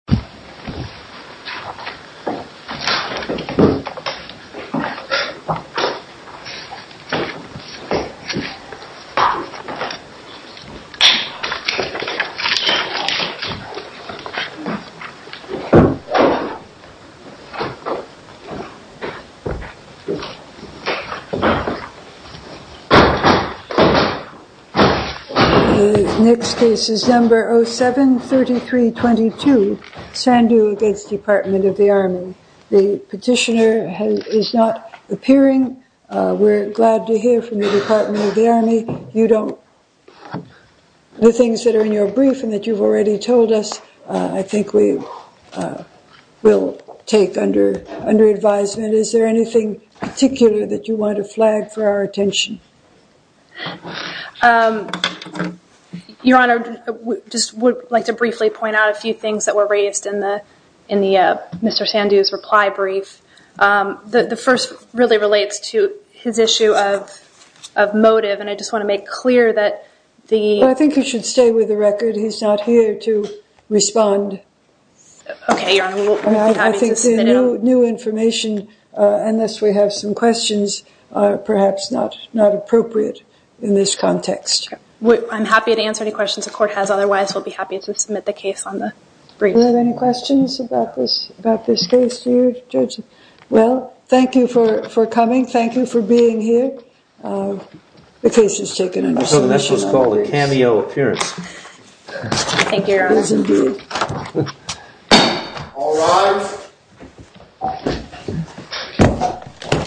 Next case is number 07-3322. Sandhu v. Department of the Army. The petitioner is not appearing. We're glad to hear from the Department of the Army. The things that are in your brief and that you've already told us, I think we will take under advisement. Is there anything particular that you want to flag for our attention? Your Honor, I would just like to briefly point out a few things that were raised in Mr. Sandhu's reply brief. The first really relates to his issue of motive and I just want to make clear that the... I think you should stay with the record. He's not here to respond. Okay, Your Honor. I think the new information, unless we have some questions, are perhaps not appropriate in this context. I'm happy to answer any questions the Court has. Otherwise, we'll be happy to submit the case on the brief. Do you have any questions about this case, Judge? Well, thank you for coming. Thank you for being here. The case is taken under submission. So this was called a cameo appearance. Thank you, Your Honor. All rise.